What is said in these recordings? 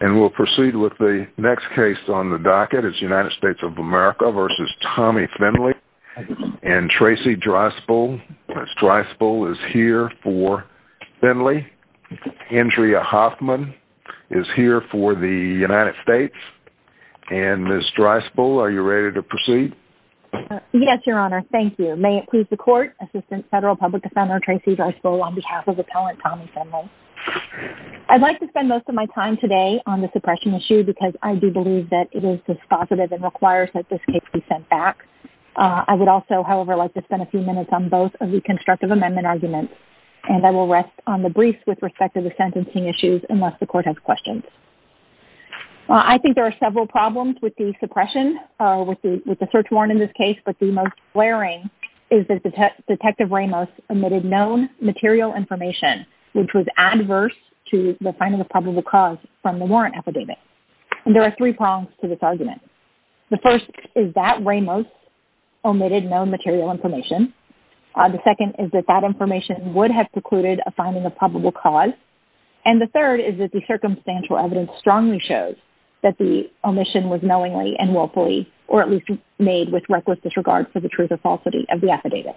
And we'll proceed with the next case on the docket, it's United States of America v. Tommy Findley. And Tracey Dryspill, Ms. Dryspill is here for Findley. Andrea Hoffman is here for the United States. And Ms. Dryspill, are you ready to proceed? Yes, Your Honor, thank you. May it please the court, Assistant Federal Public Defender Tracey Dryspill on behalf of Appellant Tommy Findley. I'd like to spend most of my time today on the suppression issue because I do believe that it is dispositive and requires that this case be sent back. I would also, however, like to spend a few minutes on both of the constructive amendment arguments. And I will rest on the briefs with respect to the sentencing issues unless the court has questions. I think there are several problems with the suppression with the search warrant in this case, but the most glaring is that Detective Ramos omitted known material information, which was adverse to the finding of probable cause from the warrant affidavit. And there are three prongs to this argument. The first is that Ramos omitted known material information. The second is that that information would have precluded a finding of probable cause. And the third is that the circumstantial evidence strongly shows that the omission was knowingly and willfully or at least made with reckless disregard for the truth or falsity of the affidavit.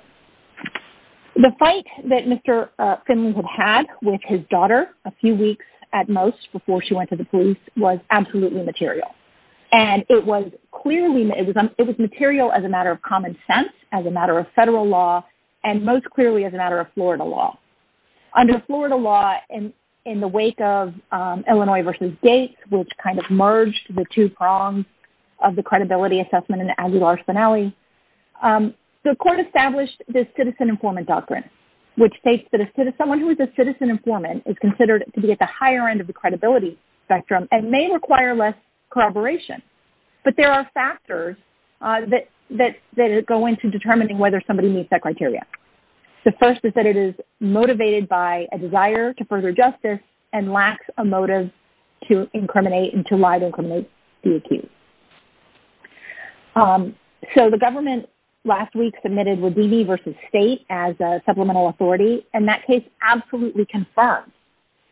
The fight that Mr. Finley had had with his daughter a few weeks at most before she went to the police was absolutely material. And it was clearly, it was material as a matter of common sense, as a matter of federal law, and most clearly as a matter of Florida law. Under Florida law, in the wake of Illinois versus Gates, which kind of merged the two prongs of the credibility assessment in Aguilar-Spinelli, the court established the citizen informant doctrine, which states that someone who is a citizen informant is considered to be at the higher end of the credibility spectrum and may require less corroboration. But there are factors that go into determining whether somebody meets that criteria. The first is that it is motivated by a desire to further justice and lacks a motive to incriminate and to lie to incriminate the accused. So the government last week submitted with D.B. versus State as a supplemental authority, and that case absolutely confirmed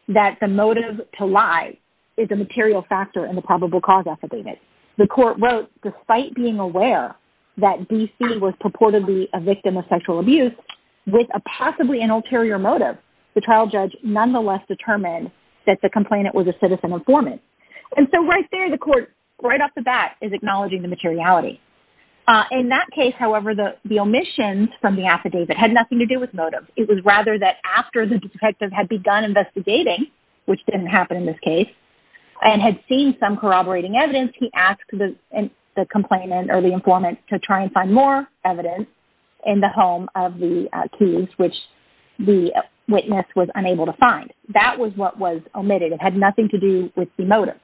that the motive to lie is a material factor in the probable cause affidavit. The court wrote, despite being aware that D.C. was purportedly a victim of sexual abuse, with a possibly an ulterior motive, the trial judge nonetheless determined that the complainant was a citizen informant. And so right there, the court, right up to the end, right off the bat is acknowledging the materiality. In that case, however, the omissions from the affidavit had nothing to do with motive. It was rather that after the detective had begun investigating, which didn't happen in this case, and had seen some corroborating evidence, he asked the complainant or the informant to try and find more evidence in the home of the accused, which the witness was unable to find. That was what was omitted. It had nothing to do with the motive.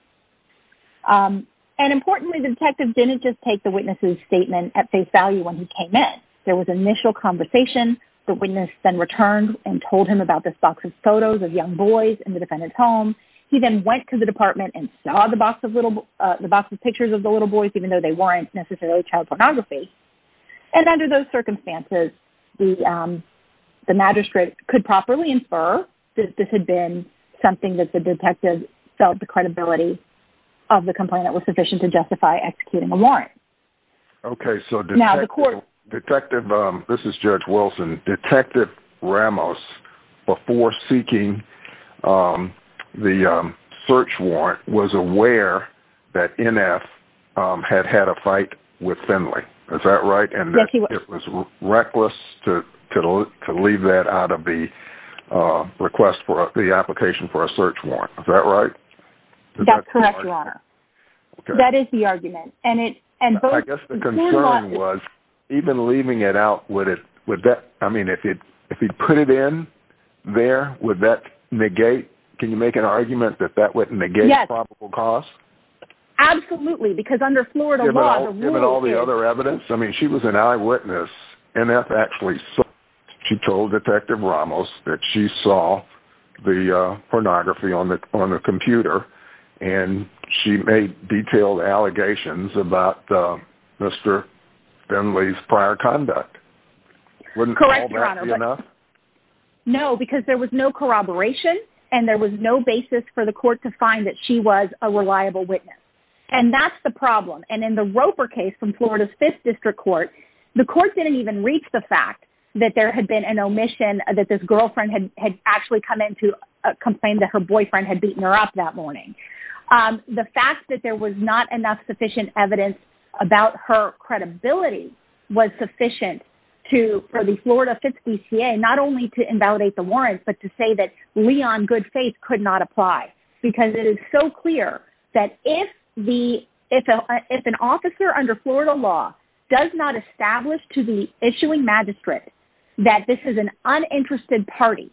And importantly, the detective didn't just take the witness's statement at face value when he came in. There was initial conversation. The witness then returned and told him about this box of photos of young boys in the defendant's home. He then went to the department and saw the box of pictures of the little boys, even though they weren't necessarily child pornography. And under those circumstances, the magistrate could properly infer that this had been something that the detective felt the credibility of the complainant was sufficient to justify executing a warrant. Okay, so detective, this is Judge Wilson. Detective Ramos, before seeking the search warrant, was aware that NF had had a fight with Finley. Is that right? And it was reckless to leave that out of the request for the application for a search warrant, is that right? That's correct, your honor. That is the argument. And it- I guess the concern was even leaving it out, would it, would that, I mean, if he'd put it in there, would that negate, can you make an argument that that would negate probable cause? Absolutely, because under Florida law- Given all the other evidence? I mean, she was an eyewitness. NF actually saw, she told detective Ramos that she saw the pornography on the computer and she made detailed allegations about Mr. Finley's prior conduct. Wouldn't all that be enough? Correct, your honor. No, because there was no corroboration and there was no basis for the court to find that she was a reliable witness. And that's the problem. And in the Roper case from Florida's 5th District Court, the court didn't even reach the fact that there had been an omission that this girlfriend had actually come in to complain that her boyfriend had beaten her up that morning. The fact that there was not enough sufficient evidence about her credibility was sufficient to, for the Florida 5th DCA, not only to invalidate the warrants, but to say that we on good faith could not apply. Because it is so clear that if the, if an officer under Florida law does not establish to the issuing magistrate that this is an uninterested party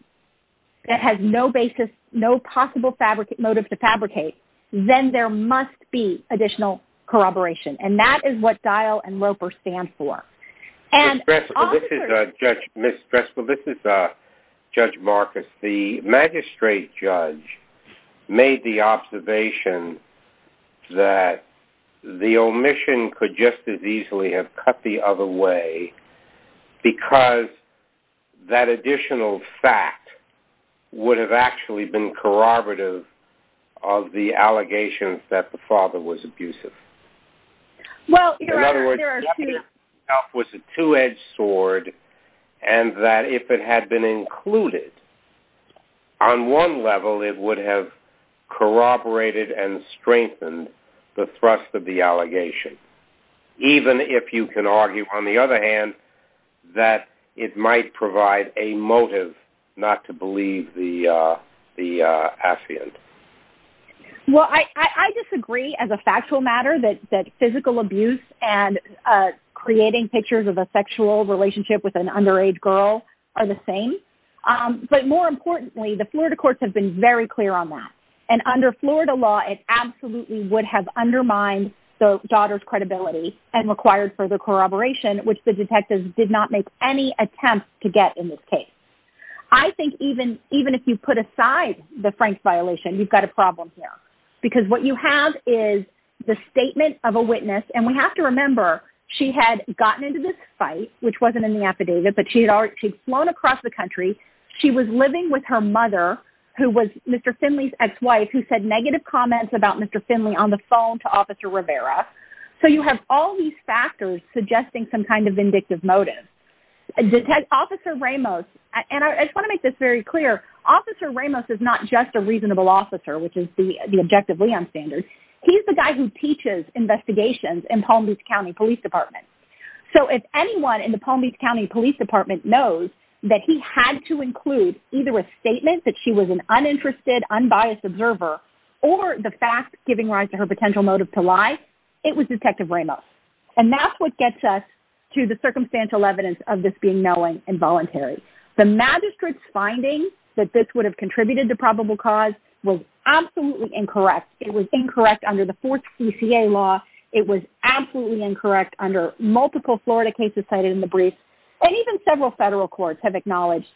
that has no basis, no possible motive to fabricate, then there must be additional corroboration. And that is what Dial and Roper stand for. And- Ms. Dressel, this is Judge Marcus. The magistrate judge made the observation that the omission could just as easily have cut the other way because that additional fact would have actually been corroborative of the allegations that the father was abusive. Well, there are two- In other words, the evidence itself was a two-edged sword and that if it had been included, on one level, it would have corroborated and strengthened the thrust of the allegation. Even if you can argue, on the other hand, that it might provide a motive not to believe the affiant. Well, I disagree as a factual matter that physical abuse and creating pictures of a sexual relationship with an underage girl are the same. But more importantly, the Florida courts have been very clear on that. And under Florida law, it absolutely would have undermined the daughter's credibility and required further corroboration, which the detectives did not make any attempt to get in this case. I think even if you put aside the Frank violation, you've got a problem here. Because what you have is the statement of a witness, and we have to remember, she had gotten into this fight, which wasn't in the affidavit, but she'd flown across the country. She was living with her mother, who was Mr. Finley's ex-wife, who said negative comments about Mr. Finley on the phone to Officer Rivera. So you have all these factors suggesting some kind of vindictive motive. Officer Ramos, and I just wanna make this very clear, Officer Ramos is not just a reasonable officer, which is the Objective Leon standard. He's the guy who teaches investigations in Palm Beach County Police Department. So if anyone in the Palm Beach County Police Department knows that he had to include either a statement that she was an uninterested, unbiased observer, or the fact giving rise to her potential motive to lie, it was Detective Ramos. And that's what gets us to the circumstantial evidence of this being knowing and voluntary. The Magistrate's finding that this would have contributed to probable cause was absolutely incorrect. It was incorrect under the fourth CCA law. It was absolutely incorrect under multiple Florida cases cited in the brief, and even several federal courts have acknowledged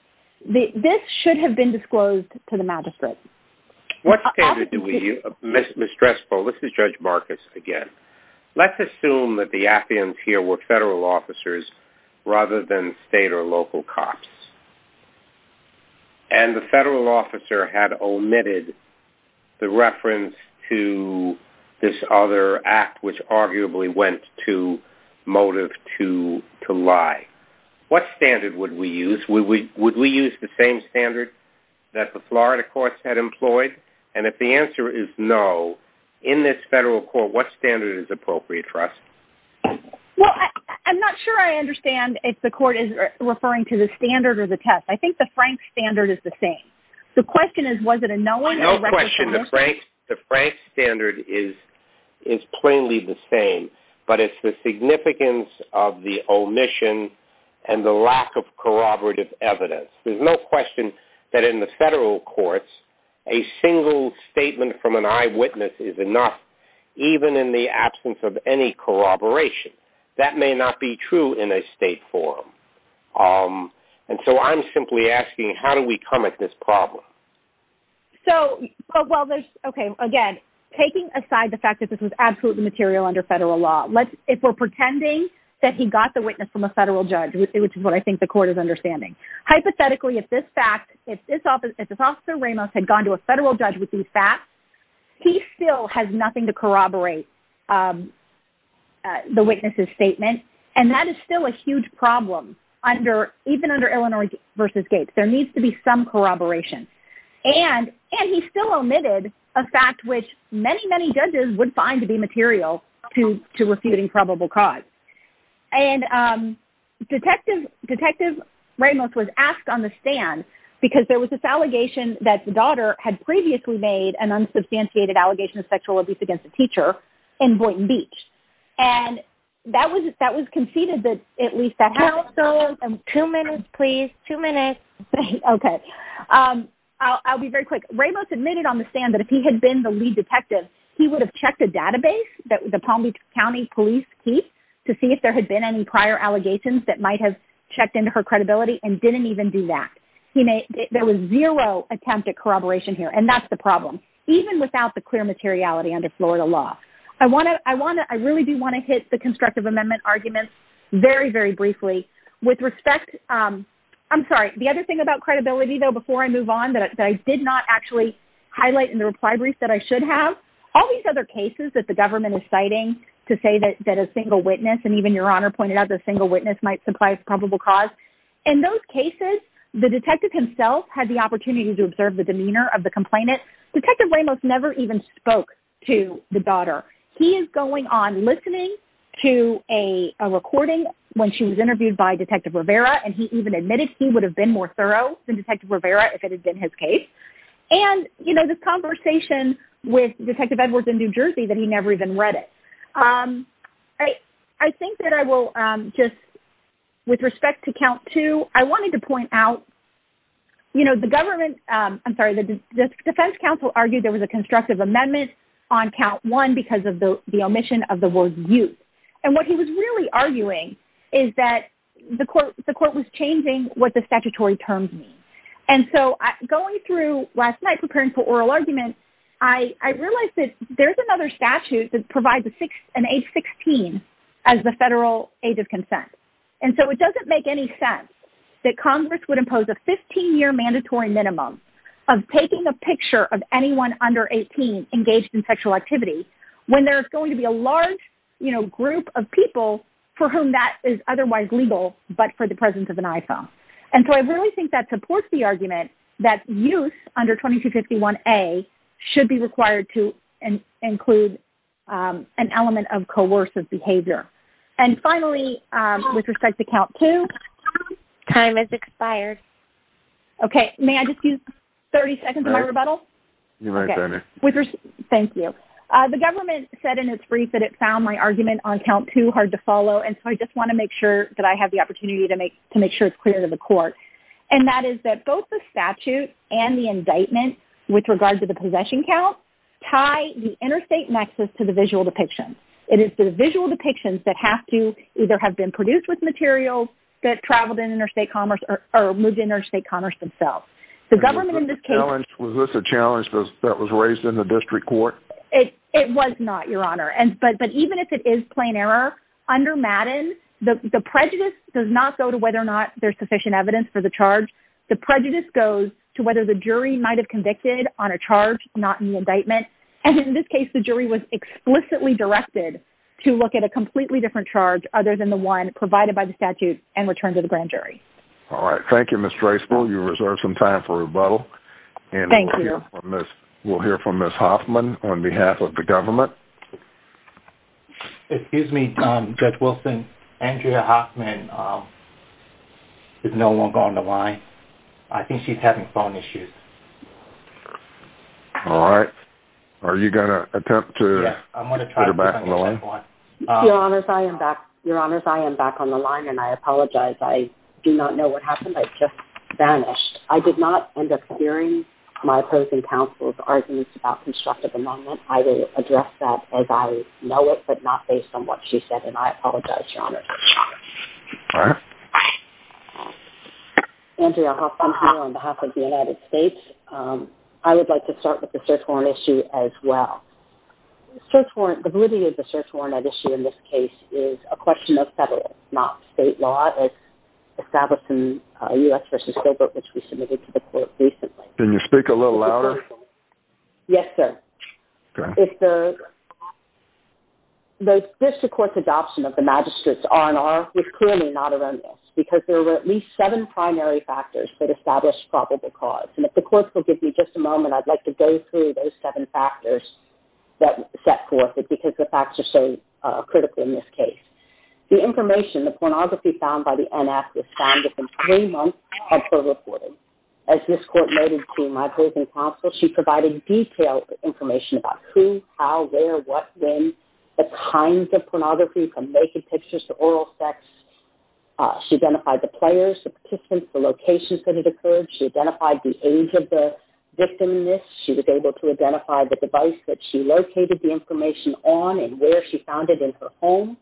that this should have been disclosed to the Magistrate. What standard did we use? Ms. Dressel, this is Judge Marcus again. Let's assume that the appearance here were federal officers rather than state or local cops. And the federal officer had omitted the reference to this other act, which arguably went to motive to lie. What standard would we use? Would we use the same standard that the Florida courts had employed? And if the answer is no, in this federal court, what standard is appropriate for us? Well, I'm not sure I understand if the court is referring to the standard or the test. I think the Frank standard is the same. The question is, was it a known or a recognized- No question, the Frank standard is plainly the same, but it's the significance of the omission and the lack of corroborative evidence. There's no question that in the federal courts, a single statement from an eyewitness is enough, even in the absence of any corroboration. That may not be true in a state forum. And so I'm simply asking, how do we come at this problem? So, well, there's, okay, again, taking aside the fact that this was absolutely material under federal law, if we're pretending that he got the witness from a federal judge, which is what I think the court is understanding, hypothetically, if this fact, if this officer Ramos had gone to a federal judge with these facts, he still has nothing to corroborate the witness's statement. And that is still a huge problem even under Illinois v. Gates. There needs to be some corroboration. And he still omitted a fact which many, many judges would find to be material to refuting probable cause. And Detective Ramos was asked on the stand because there was this allegation that the daughter had previously made an unsubstantiated allegation of sexual abuse against a teacher in Boynton Beach. And that was conceded that at least that happened. Two minutes, please, two minutes. Okay, I'll be very quick. Ramos admitted on the stand that if he had been the lead detective, he would have checked a database that the Palm Beach County Police keep to see if there had been any prior allegations that might have checked into her credibility and didn't even do that. There was zero attempt at corroboration here. And that's the problem, even without the clear materiality under Florida law. I really do wanna hit the constructive amendment arguments very, very briefly. With respect, I'm sorry, the other thing about credibility, though, before I move on that I did not actually highlight in the reply brief that I should have, all these other cases that the government is citing to say that a single witness, and even Your Honor pointed out that a single witness might supply a probable cause. In those cases, the detective himself had the opportunity to observe the demeanor of the complainant. Detective Ramos never even spoke to the daughter. He is going on listening to a recording when she was interviewed by Detective Rivera, and he even admitted he would have been more thorough than Detective Rivera if it had been his case. And this conversation with Detective Edwards in New Jersey that he never even read it. I think that I will just, with respect to count two, I wanted to point out, the government, I'm sorry, the Defense Council argued there was a constructive amendment on count one because of the omission of the word youth. And what he was really arguing is that the court was changing what the statutory terms mean. And so going through last night, preparing for oral argument, I realized that there's another statute that provides an age 16 as the federal age of consent. And so it doesn't make any sense that Congress would impose a 15-year mandatory minimum of taking a picture of anyone under 18 engaged in sexual activity when there's going to be a large group of people for whom that is otherwise legal, but for the presence of an iPhone. And so I really think that supports the argument that youth under 2251A should be required to include an element of coercive behavior. And finally, with respect to count two. Time has expired. Okay, may I just use 30 seconds of my rebuttal? You're right, Diana. Thank you. The government said in its brief that it found my argument on count two hard to follow. And so I just wanna make sure that I have the opportunity to make sure it's clear to the court. And that is that both the statute and the indictment with regard to the possession count tie the interstate nexus to the visual depiction. It is the visual depictions that have to either have been produced with materials that traveled in interstate commerce or moved interstate commerce themselves. The government in this case- Was this a challenge that was raised in the district court? It was not, your honor. But even if it is plain error, under Madden, the prejudice does not go to whether or not there's sufficient evidence for the charge. The prejudice goes to whether the jury might've convicted on a charge, not in the indictment. And in this case, the jury was explicitly directed to look at a completely different charge other than the one provided by the statute and return to the grand jury. All right, thank you, Ms. Draceville. You reserved some time for rebuttal. And we'll hear from Ms. Hoffman on behalf of the government. Excuse me, Judge Wilson. Andrea Hoffman is no longer on the line. I think she's having phone issues. All right, are you gonna attempt to put her back on the line? Your honors, I am back on the line, and I apologize. I do not know what happened, I just vanished. I did not end up hearing my opposing counsel's arguments about constructive amendment. I will address that as I know it, but not based on what she said, and I apologize, your honors. Andrea Hoffman here on behalf of the United States. I would like to start with the search warrant issue as well. The validity of the search warrant issue in this case is a question of federal, not state law, as established in U.S. v. Gilbert, which we submitted to the court recently. Can you speak a little louder? Yes, sir. If the district court's adoption of the magistrate's R&R is clearly not erroneous, because there were at least seven primary factors that established probable cause. And if the court will give me just a moment, I'd like to go through those seven factors that set forth it because the facts are so critical in this case. The information, the pornography found by the NF was found within three months of her reporting. As this court noted to my opposing counsel, she provided detailed information about who, how, where, what, when, the kinds of pornography from naked pictures to oral sex. She identified the players, the participants, the locations that it occurred. She identified the age of the victim in this. She was able to identify the device that she located the information on and where she found it in her home.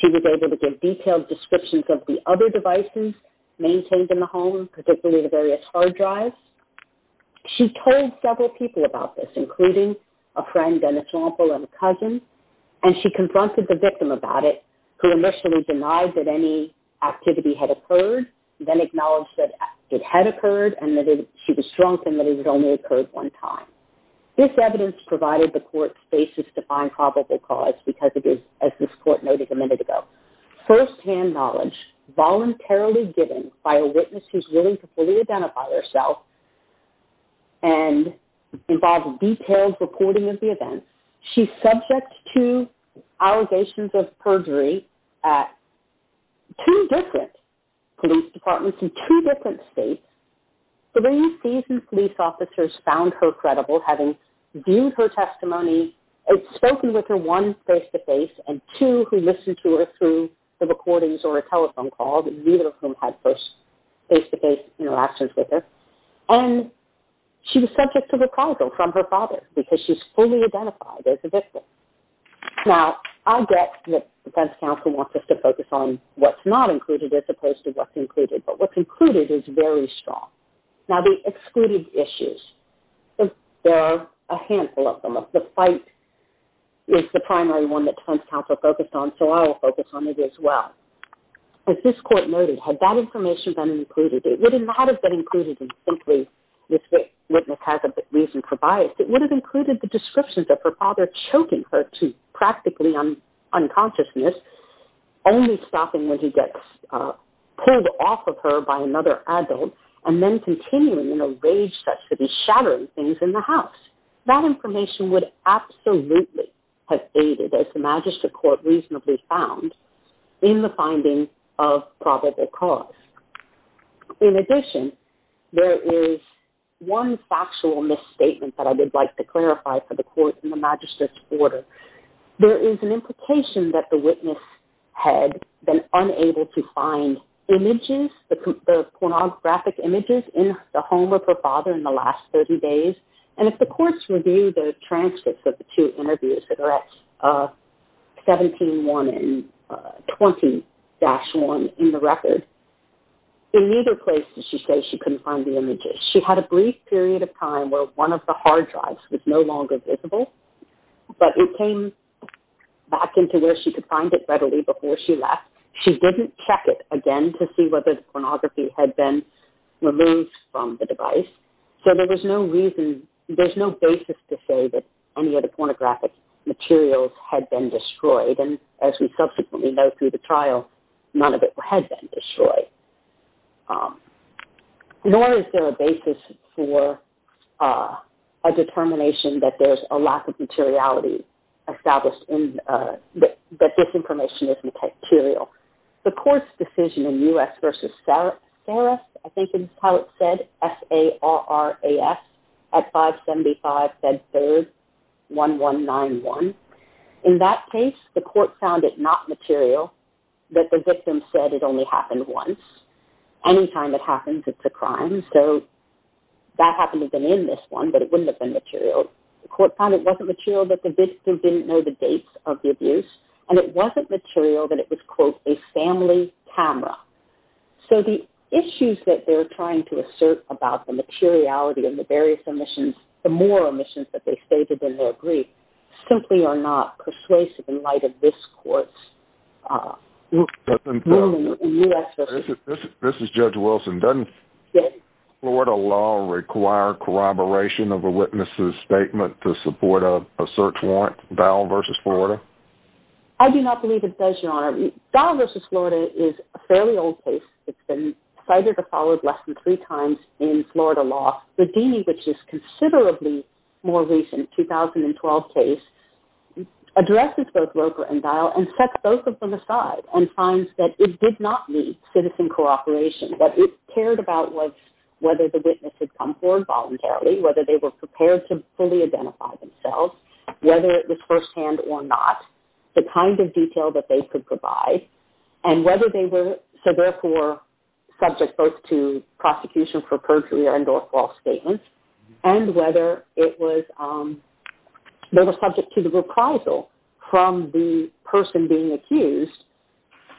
She was able to give detailed descriptions of the other devices maintained in the home, particularly the various hard drives. She told several people about this, including a friend and a sample and a cousin, and she confronted the victim about it, who initially denied that any activity had occurred, then acknowledged that it had occurred and that she was drunk and that it had only occurred one time. This evidence provided the court spaces to find probable cause because it is, as this court noted a minute ago, firsthand knowledge voluntarily given by a witness who's willing to fully identify herself and involve detailed reporting of the events. She's subject to allegations of perjury at two different police departments in two different states. Three seasoned police officers found her credible having viewed her testimony, had spoken with her one face-to-face and two who listened to her through the recordings or a telephone call, neither of whom had first face-to-face interactions with her. And she was subject to reprisal from her father because she's fully identified as a victim. Now, I get that defense counsel wants us to focus on what's not included as opposed to what's included, but what's included is very strong. Now, the excluded issues, there are a handful of them. The fight is the primary one that defense counsel focused on so I will focus on it as well. As this court noted, had that information been included, it would not have been included in simply this witness has a reason for bias. It would have included the descriptions of her father choking her to practically unconsciousness, only stopping when he gets pulled off of her by another adult and then continuing in a rage that should be shattering things in the house. That information would absolutely have aided as the magistrate court reasonably found in the finding of probable cause. In addition, there is one factual misstatement that I would like to clarify for the court in the magistrate's order. There is an implication that the witness had been unable to find images, the pornographic images in the home of her father in the last 30 days. And if the courts review the transcripts of the two interviews that are at 17, one and 20-1 in the record, in neither place did she say she couldn't find the images. She had a brief period of time where one of the hard drives was no longer visible, but it came back into where she could find it readily before she left. She didn't check it again to see whether the pornography had been removed from the device. So there was no reason, there's no basis to say that any of the pornographic materials had been destroyed. And as we subsequently know through the trial, none of it had been destroyed. Nor is there a basis for a determination that there's a lack of materiality established in that this information is material. The court's decision in U.S. versus Saras, I think is how it's said, S-A-R-A-S, at 575 Fed Third 1191. In that case, the court found it not material that the victim said it only happened once. Anytime it happens, it's a crime. So that happened to have been in this one, but it wouldn't have been material. The court found it wasn't material that the victim didn't know the dates of the abuse, and it wasn't material that it was, quote, a family camera. So the issues that they're trying to assert about the materiality and the various omissions, the more omissions that they stated in their brief, simply are not persuasive in light of this court's ruling in U.S. versus. This is Judge Wilson. Doesn't Florida law require corroboration of a witness's statement to support a search warrant, Dowell versus Florida? I do not believe it does, Your Honor. Dowell versus Florida is a fairly old case. It's been cited or followed less than three times in Florida law. The D, which is considerably more recent, 2012 case, addresses both Roper and Dowell, and sets both of them aside, and finds that it did not need citizen cooperation, that it cared about whether the witness had come forward voluntarily, whether they were prepared to fully identify themselves, whether it was firsthand or not, the kind of detail that they could provide, and whether they were, so therefore, subject both to prosecution for perjury and or false statements, and whether it was, they were subject to the reprisal from the person being accused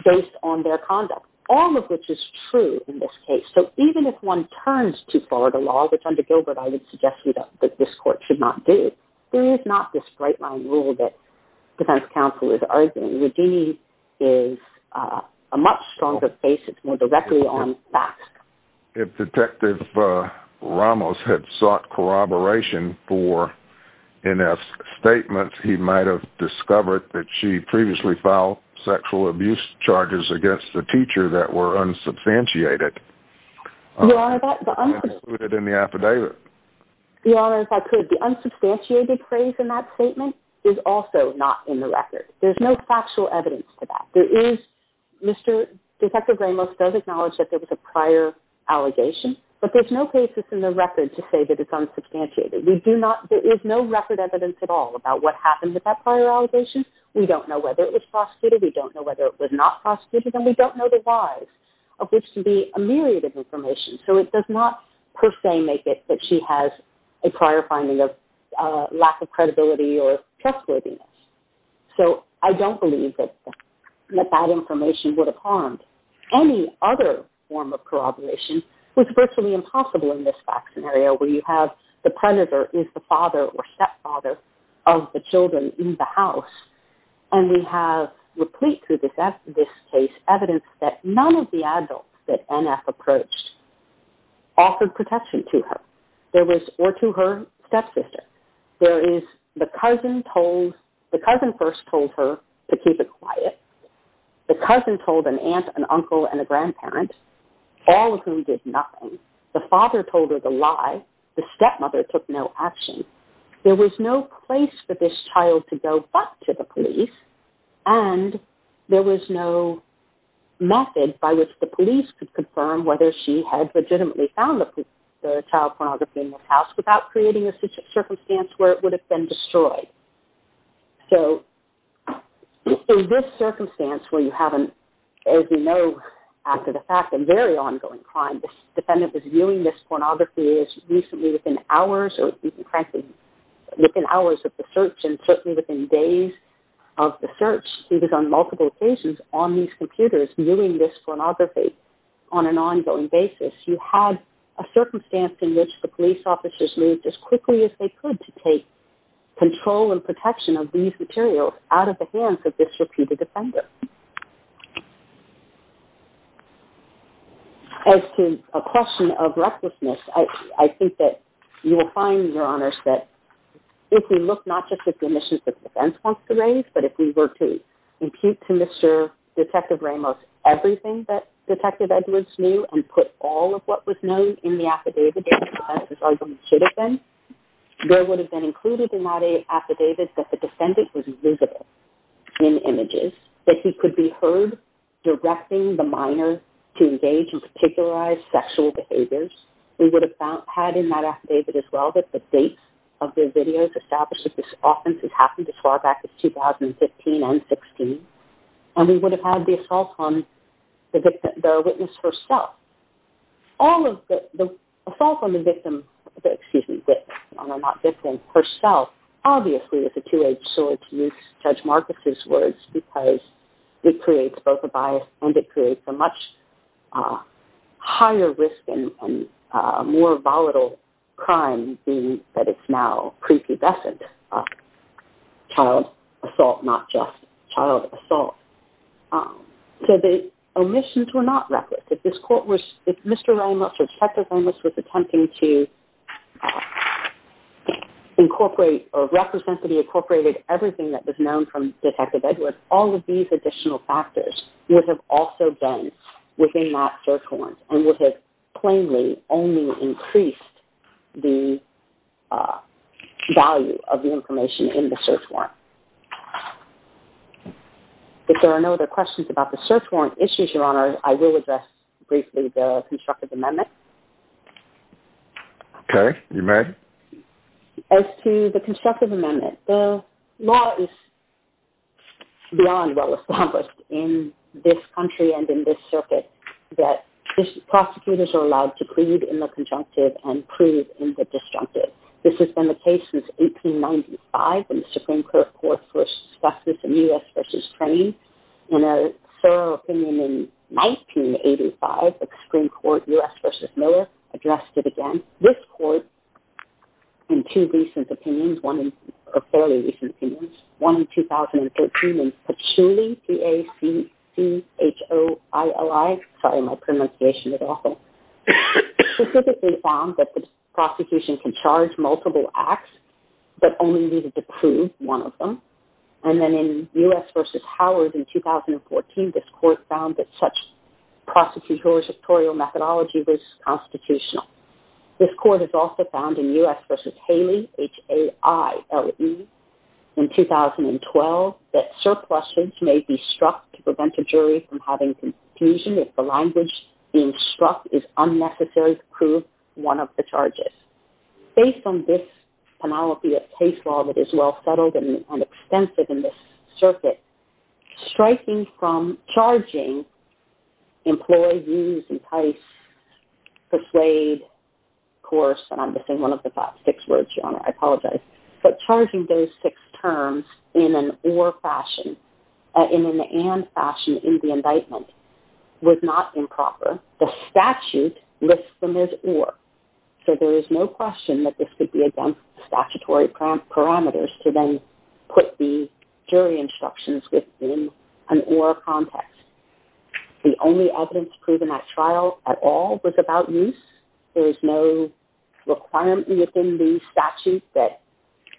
based on their conduct, all of which is true in this case. So even if one turns to Florida law, which under Gilbert, I would suggest to you that this court should not do, there is not this straight line rule that defense counsel is arguing. The D is a much stronger basis, more directly on facts. If Detective Ramos had sought corroboration for NS statements, he might've discovered that she previously filed sexual abuse charges against the teacher that were unsubstantiated. Your Honor, that, the unsubstantiated- Included in the affidavit. Your Honor, if I could, the unsubstantiated phrase in that statement is also not in the record. There's no factual evidence for that. There is, Mr., Detective Ramos does acknowledge that there was a prior allegation, but there's no cases in the record to say that it's unsubstantiated. We do not, there is no record evidence at all about what happened with that prior allegation. We don't know whether it was prosecuted. We don't know whether it was not prosecuted, and we don't know the whys of which to be a myriad of information. So it does not per se make it that she has a prior finding of lack of credibility or trustworthiness. So I don't believe that that information would have harmed any other form of corroboration. It was virtually impossible in this fact scenario where you have the predator is the father or stepfather of the children in the house. And we have replete to this case evidence that none of the adults that NF approached offered protection to her. There was, or to her stepsister. There is the cousin told, the cousin first told her to keep it quiet. The cousin told an aunt, an uncle, and a grandparent, all of whom did nothing. The father told her the lie. The stepmother took no action. There was no place for this child to go back to the police. And there was no method by which the police could confirm whether she had legitimately found the child pornography in this house without creating a circumstance where it would have been destroyed. So in this circumstance where you haven't, as we know, after the fact, a very ongoing crime, this defendant was viewing this pornography as recently within hours, or even frankly, within hours of the search, and certainly within days of the search. He was on multiple occasions on these computers viewing this pornography on an ongoing basis. You had a circumstance in which the police officers moved as quickly as they could to take control and protection of these materials out of the hands of this repeated offender. As to a question of recklessness, I think that you will find, Your Honors, that if we look not just at the admissions that the defense wants to raise, but if we were to impute to Mr. Detective Ramos everything that Detective Edwards knew and put all of what was known in the affidavit that the defense's argument should have been, there would have been included in that affidavit that the defendant was visible in images, that he could be heard directing the minor to engage in particularized sexual behaviors. We would have had in that affidavit as well that the date of the video to establish that this offense had happened as far back as 2015 and 16, and we would have had the assault on the witness herself. All of the assault on the victim, excuse me, on the not-victim herself, obviously is a two-edged sword, to use Judge Marcus's words, because it creates both a bias and it creates a much higher risk and more volatile crime, being that it's now prepubescent child assault, not just child assault. So the omissions were not reckless. If Mr. Ramos or Detective Ramos was attempting to incorporate or represent to be incorporated everything that was known from Detective Edwards, all of these additional factors would have also been within that search warrant and would have plainly only increased the value of the information in the search warrant. If there are no other questions about the search warrant issues, Your Honor, I will address briefly the Constructive Amendment. Okay, you may. As to the Constructive Amendment, the law is beyond well-established in this country and in this circuit that prosecutors are allowed to plead in the conjunctive and prove in the disjunctive. This has been the case since 1895 in the Supreme Court Court for Justice in U.S. v. Train. In a thorough opinion in 1985, the Supreme Court U.S. v. Miller addressed it again. This court, in two recent opinions, one in, or fairly recent opinions, one in 2013 in Patchouli, P-A-C-C-H-O-I-L-I. Sorry, my pronunciation is awful. Specifically found that the prosecution can charge multiple acts but only needed to prove one of them. And then in U.S. v. Howard in 2014, this court found that such prosecutorial methodology was constitutional. This court has also found in U.S. v. Haley, H-A-I-L-E, in 2012, that surpluses may be struck to prevent a jury from having confusion if the language being struck is unnecessary to prove one of the charges. Based on this panoply of case law that is well-settled and extensive in this circuit, striking from charging employee use, entice, persuade, course, and I'm missing one of the top six words, Your Honor. I apologize. But charging those six terms in an or fashion, in an and fashion in the indictment, was not improper. The statute lists them as or. So there is no question that this could be statutory parameters to then put the jury instructions within an or context. The only evidence proven at trial at all was about use. There is no requirement within the statute that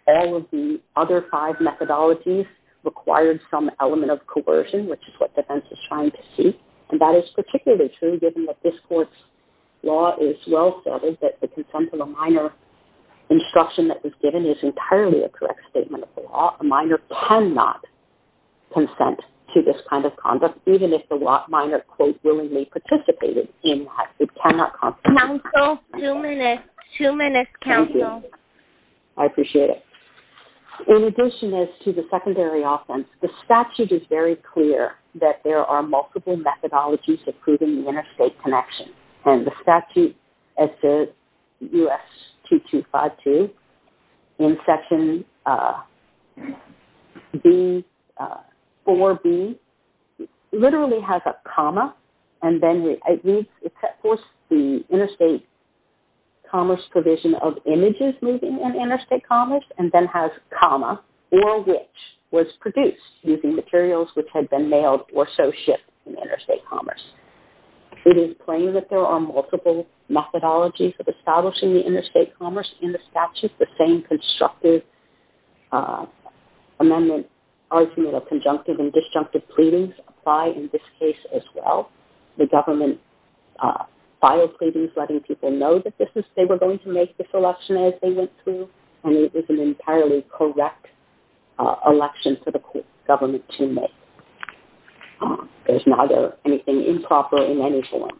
all of the other five methodologies required some element of coercion, which is what defense is trying to see. And that is particularly true given that this court's law is well-settled, and that the consent of the minor instruction that was given is entirely a correct statement of the law. A minor cannot consent to this kind of conduct, even if the minor, quote, willingly participated in that. It cannot- Counsel, two minutes, two minutes, counsel. Thank you. I appreciate it. In addition to the secondary offense, the statute is very clear that there are multiple methodologies of proving the interstate connection. And the statute, as the U.S. 2252 in Section 4B, literally has a comma, and then it reads, it set forth the interstate commerce provision of images moving in interstate commerce, and then has a comma, or which was produced using materials which had been mailed or so shipped in interstate commerce. It is plain that there are multiple methodologies of establishing the interstate commerce. In the statute, the same constructive amendment argument of conjunctive and disjunctive pleadings apply in this case as well. The government filed pleadings letting people know that this is, they were going to make this election as they went through, and it was an entirely correct election for the government to make. There's neither anything improper in any form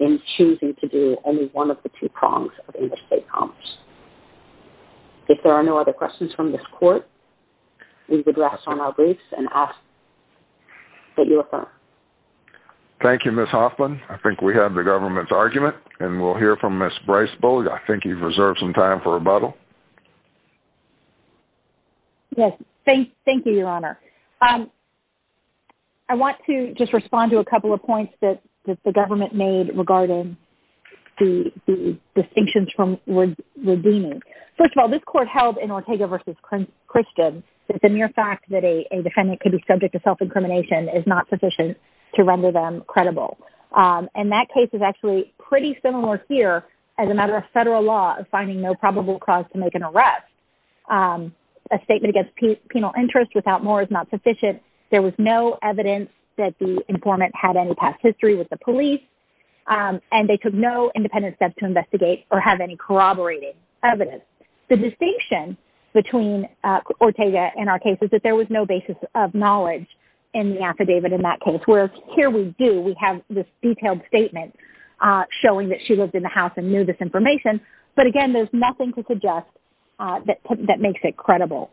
in choosing to do any one of the two prongs of interstate commerce. If there are no other questions from this court, we would rest on our briefs and ask that you affirm. Thank you, Ms. Hoffman. I think we have the government's argument, and we'll hear from Ms. Breisbulg. Yes, thank you, Your Honor. I want to just respond to a couple of points that the government made regarding the distinctions from redeeming. First of all, this court held in Ortega v. Christian that the mere fact that a defendant could be subject to self-incrimination is not sufficient to render them credible. And that case is actually pretty similar here as a matter of federal law of finding no probable cause to make an arrest. A statement against penal interest without more is not sufficient. There was no evidence that the informant had any past history with the police, and they took no independent steps to investigate or have any corroborated evidence. The distinction between Ortega and our case is that there was no basis of knowledge in the affidavit in that case, where here we do, we have this detailed statement showing that she lived in the house and knew this information. But again, there's nothing to suggest that makes it credible.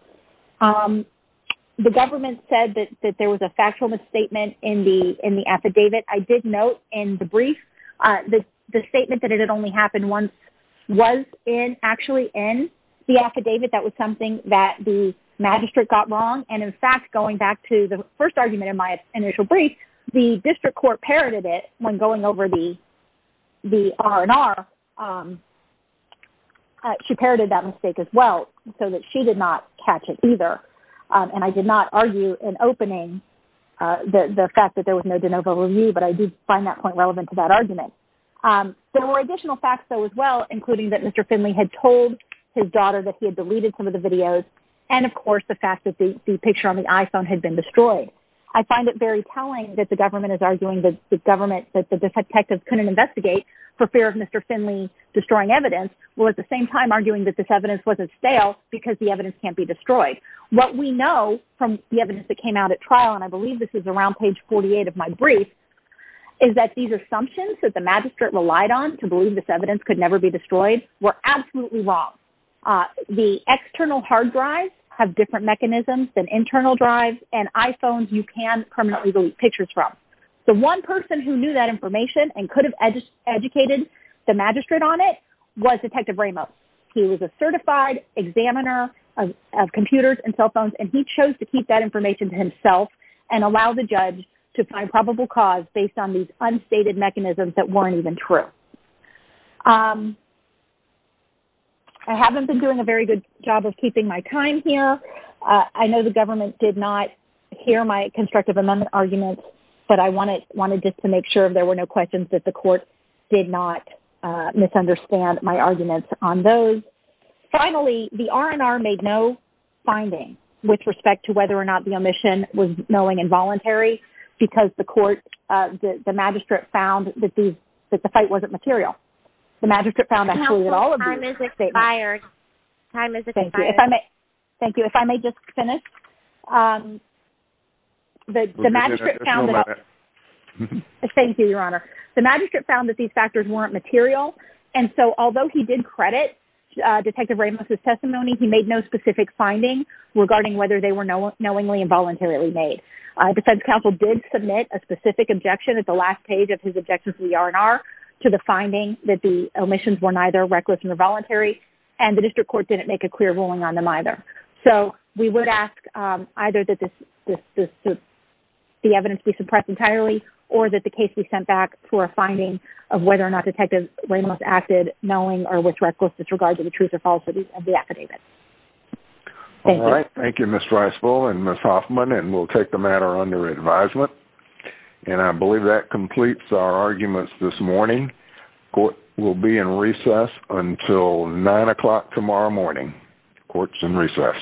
The government said that there was a factual misstatement in the affidavit. I did note in the brief, the statement that it had only happened once was actually in the affidavit. That was something that the magistrate got wrong. And in fact, going back to the first argument in my initial brief, the district court parroted it when going over the R&R. She parroted that mistake as well so that she did not catch it. She did not catch it either. And I did not argue in opening the fact that there was no de novo review, but I did find that point relevant to that argument. There were additional facts though as well, including that Mr. Finley had told his daughter that he had deleted some of the videos. And of course, the fact that the picture on the iPhone had been destroyed. I find it very telling that the government is arguing that the government, that the detectives couldn't investigate for fear of Mr. Finley destroying evidence, while at the same time arguing that this evidence wasn't stale because the evidence can't be destroyed. What we know from the evidence that came out at trial, and I believe this is around page 48 of my brief, is that these assumptions that the magistrate relied on to believe this evidence could never be destroyed were absolutely wrong. The external hard drives have different mechanisms than internal drives and iPhones you can permanently delete pictures from. The one person who knew that information and could have educated the magistrate on it was Detective Ramos. He was a certified examiner of computers and cell phones, and he chose to keep that information to himself and allow the judge to find probable cause based on these unstated mechanisms that weren't even true. I haven't been doing a very good job of keeping my time here. I know the government did not hear my constructive amendment arguments, but I wanted just to make sure if there were no questions that the court did not misunderstand my arguments on those. Finally, the R&R made no finding with respect to whether or not the omission was knowing involuntary because the court, the magistrate, found that the fight wasn't material. The magistrate found actually that all of these statements... Time is expired. Time is expired. Thank you. If I may just finish. The magistrate found that... Thank you, Your Honor. The magistrate found that these factors weren't material, and so although he did credit Detective Ramos' testimony, he made no specific finding regarding whether they were knowingly and voluntarily made. Defense counsel did submit a specific objection at the last page of his objection to the R&R to the finding that the omissions were neither reckless nor voluntary, and the district court didn't make a clear ruling on them either. So we would ask either that the evidence be suppressed entirely or that the case be sent back for a finding of whether or not Detective Ramos acted knowing or with reckless disregard to the truth or falsity of the affidavit. Thank you. All right. Thank you, Ms. Dreisfeld and Ms. Hoffman, and we'll take the matter under advisement. And I believe that completes our arguments this morning. Court will be in recess until 9 o'clock tomorrow morning. Court's in recess.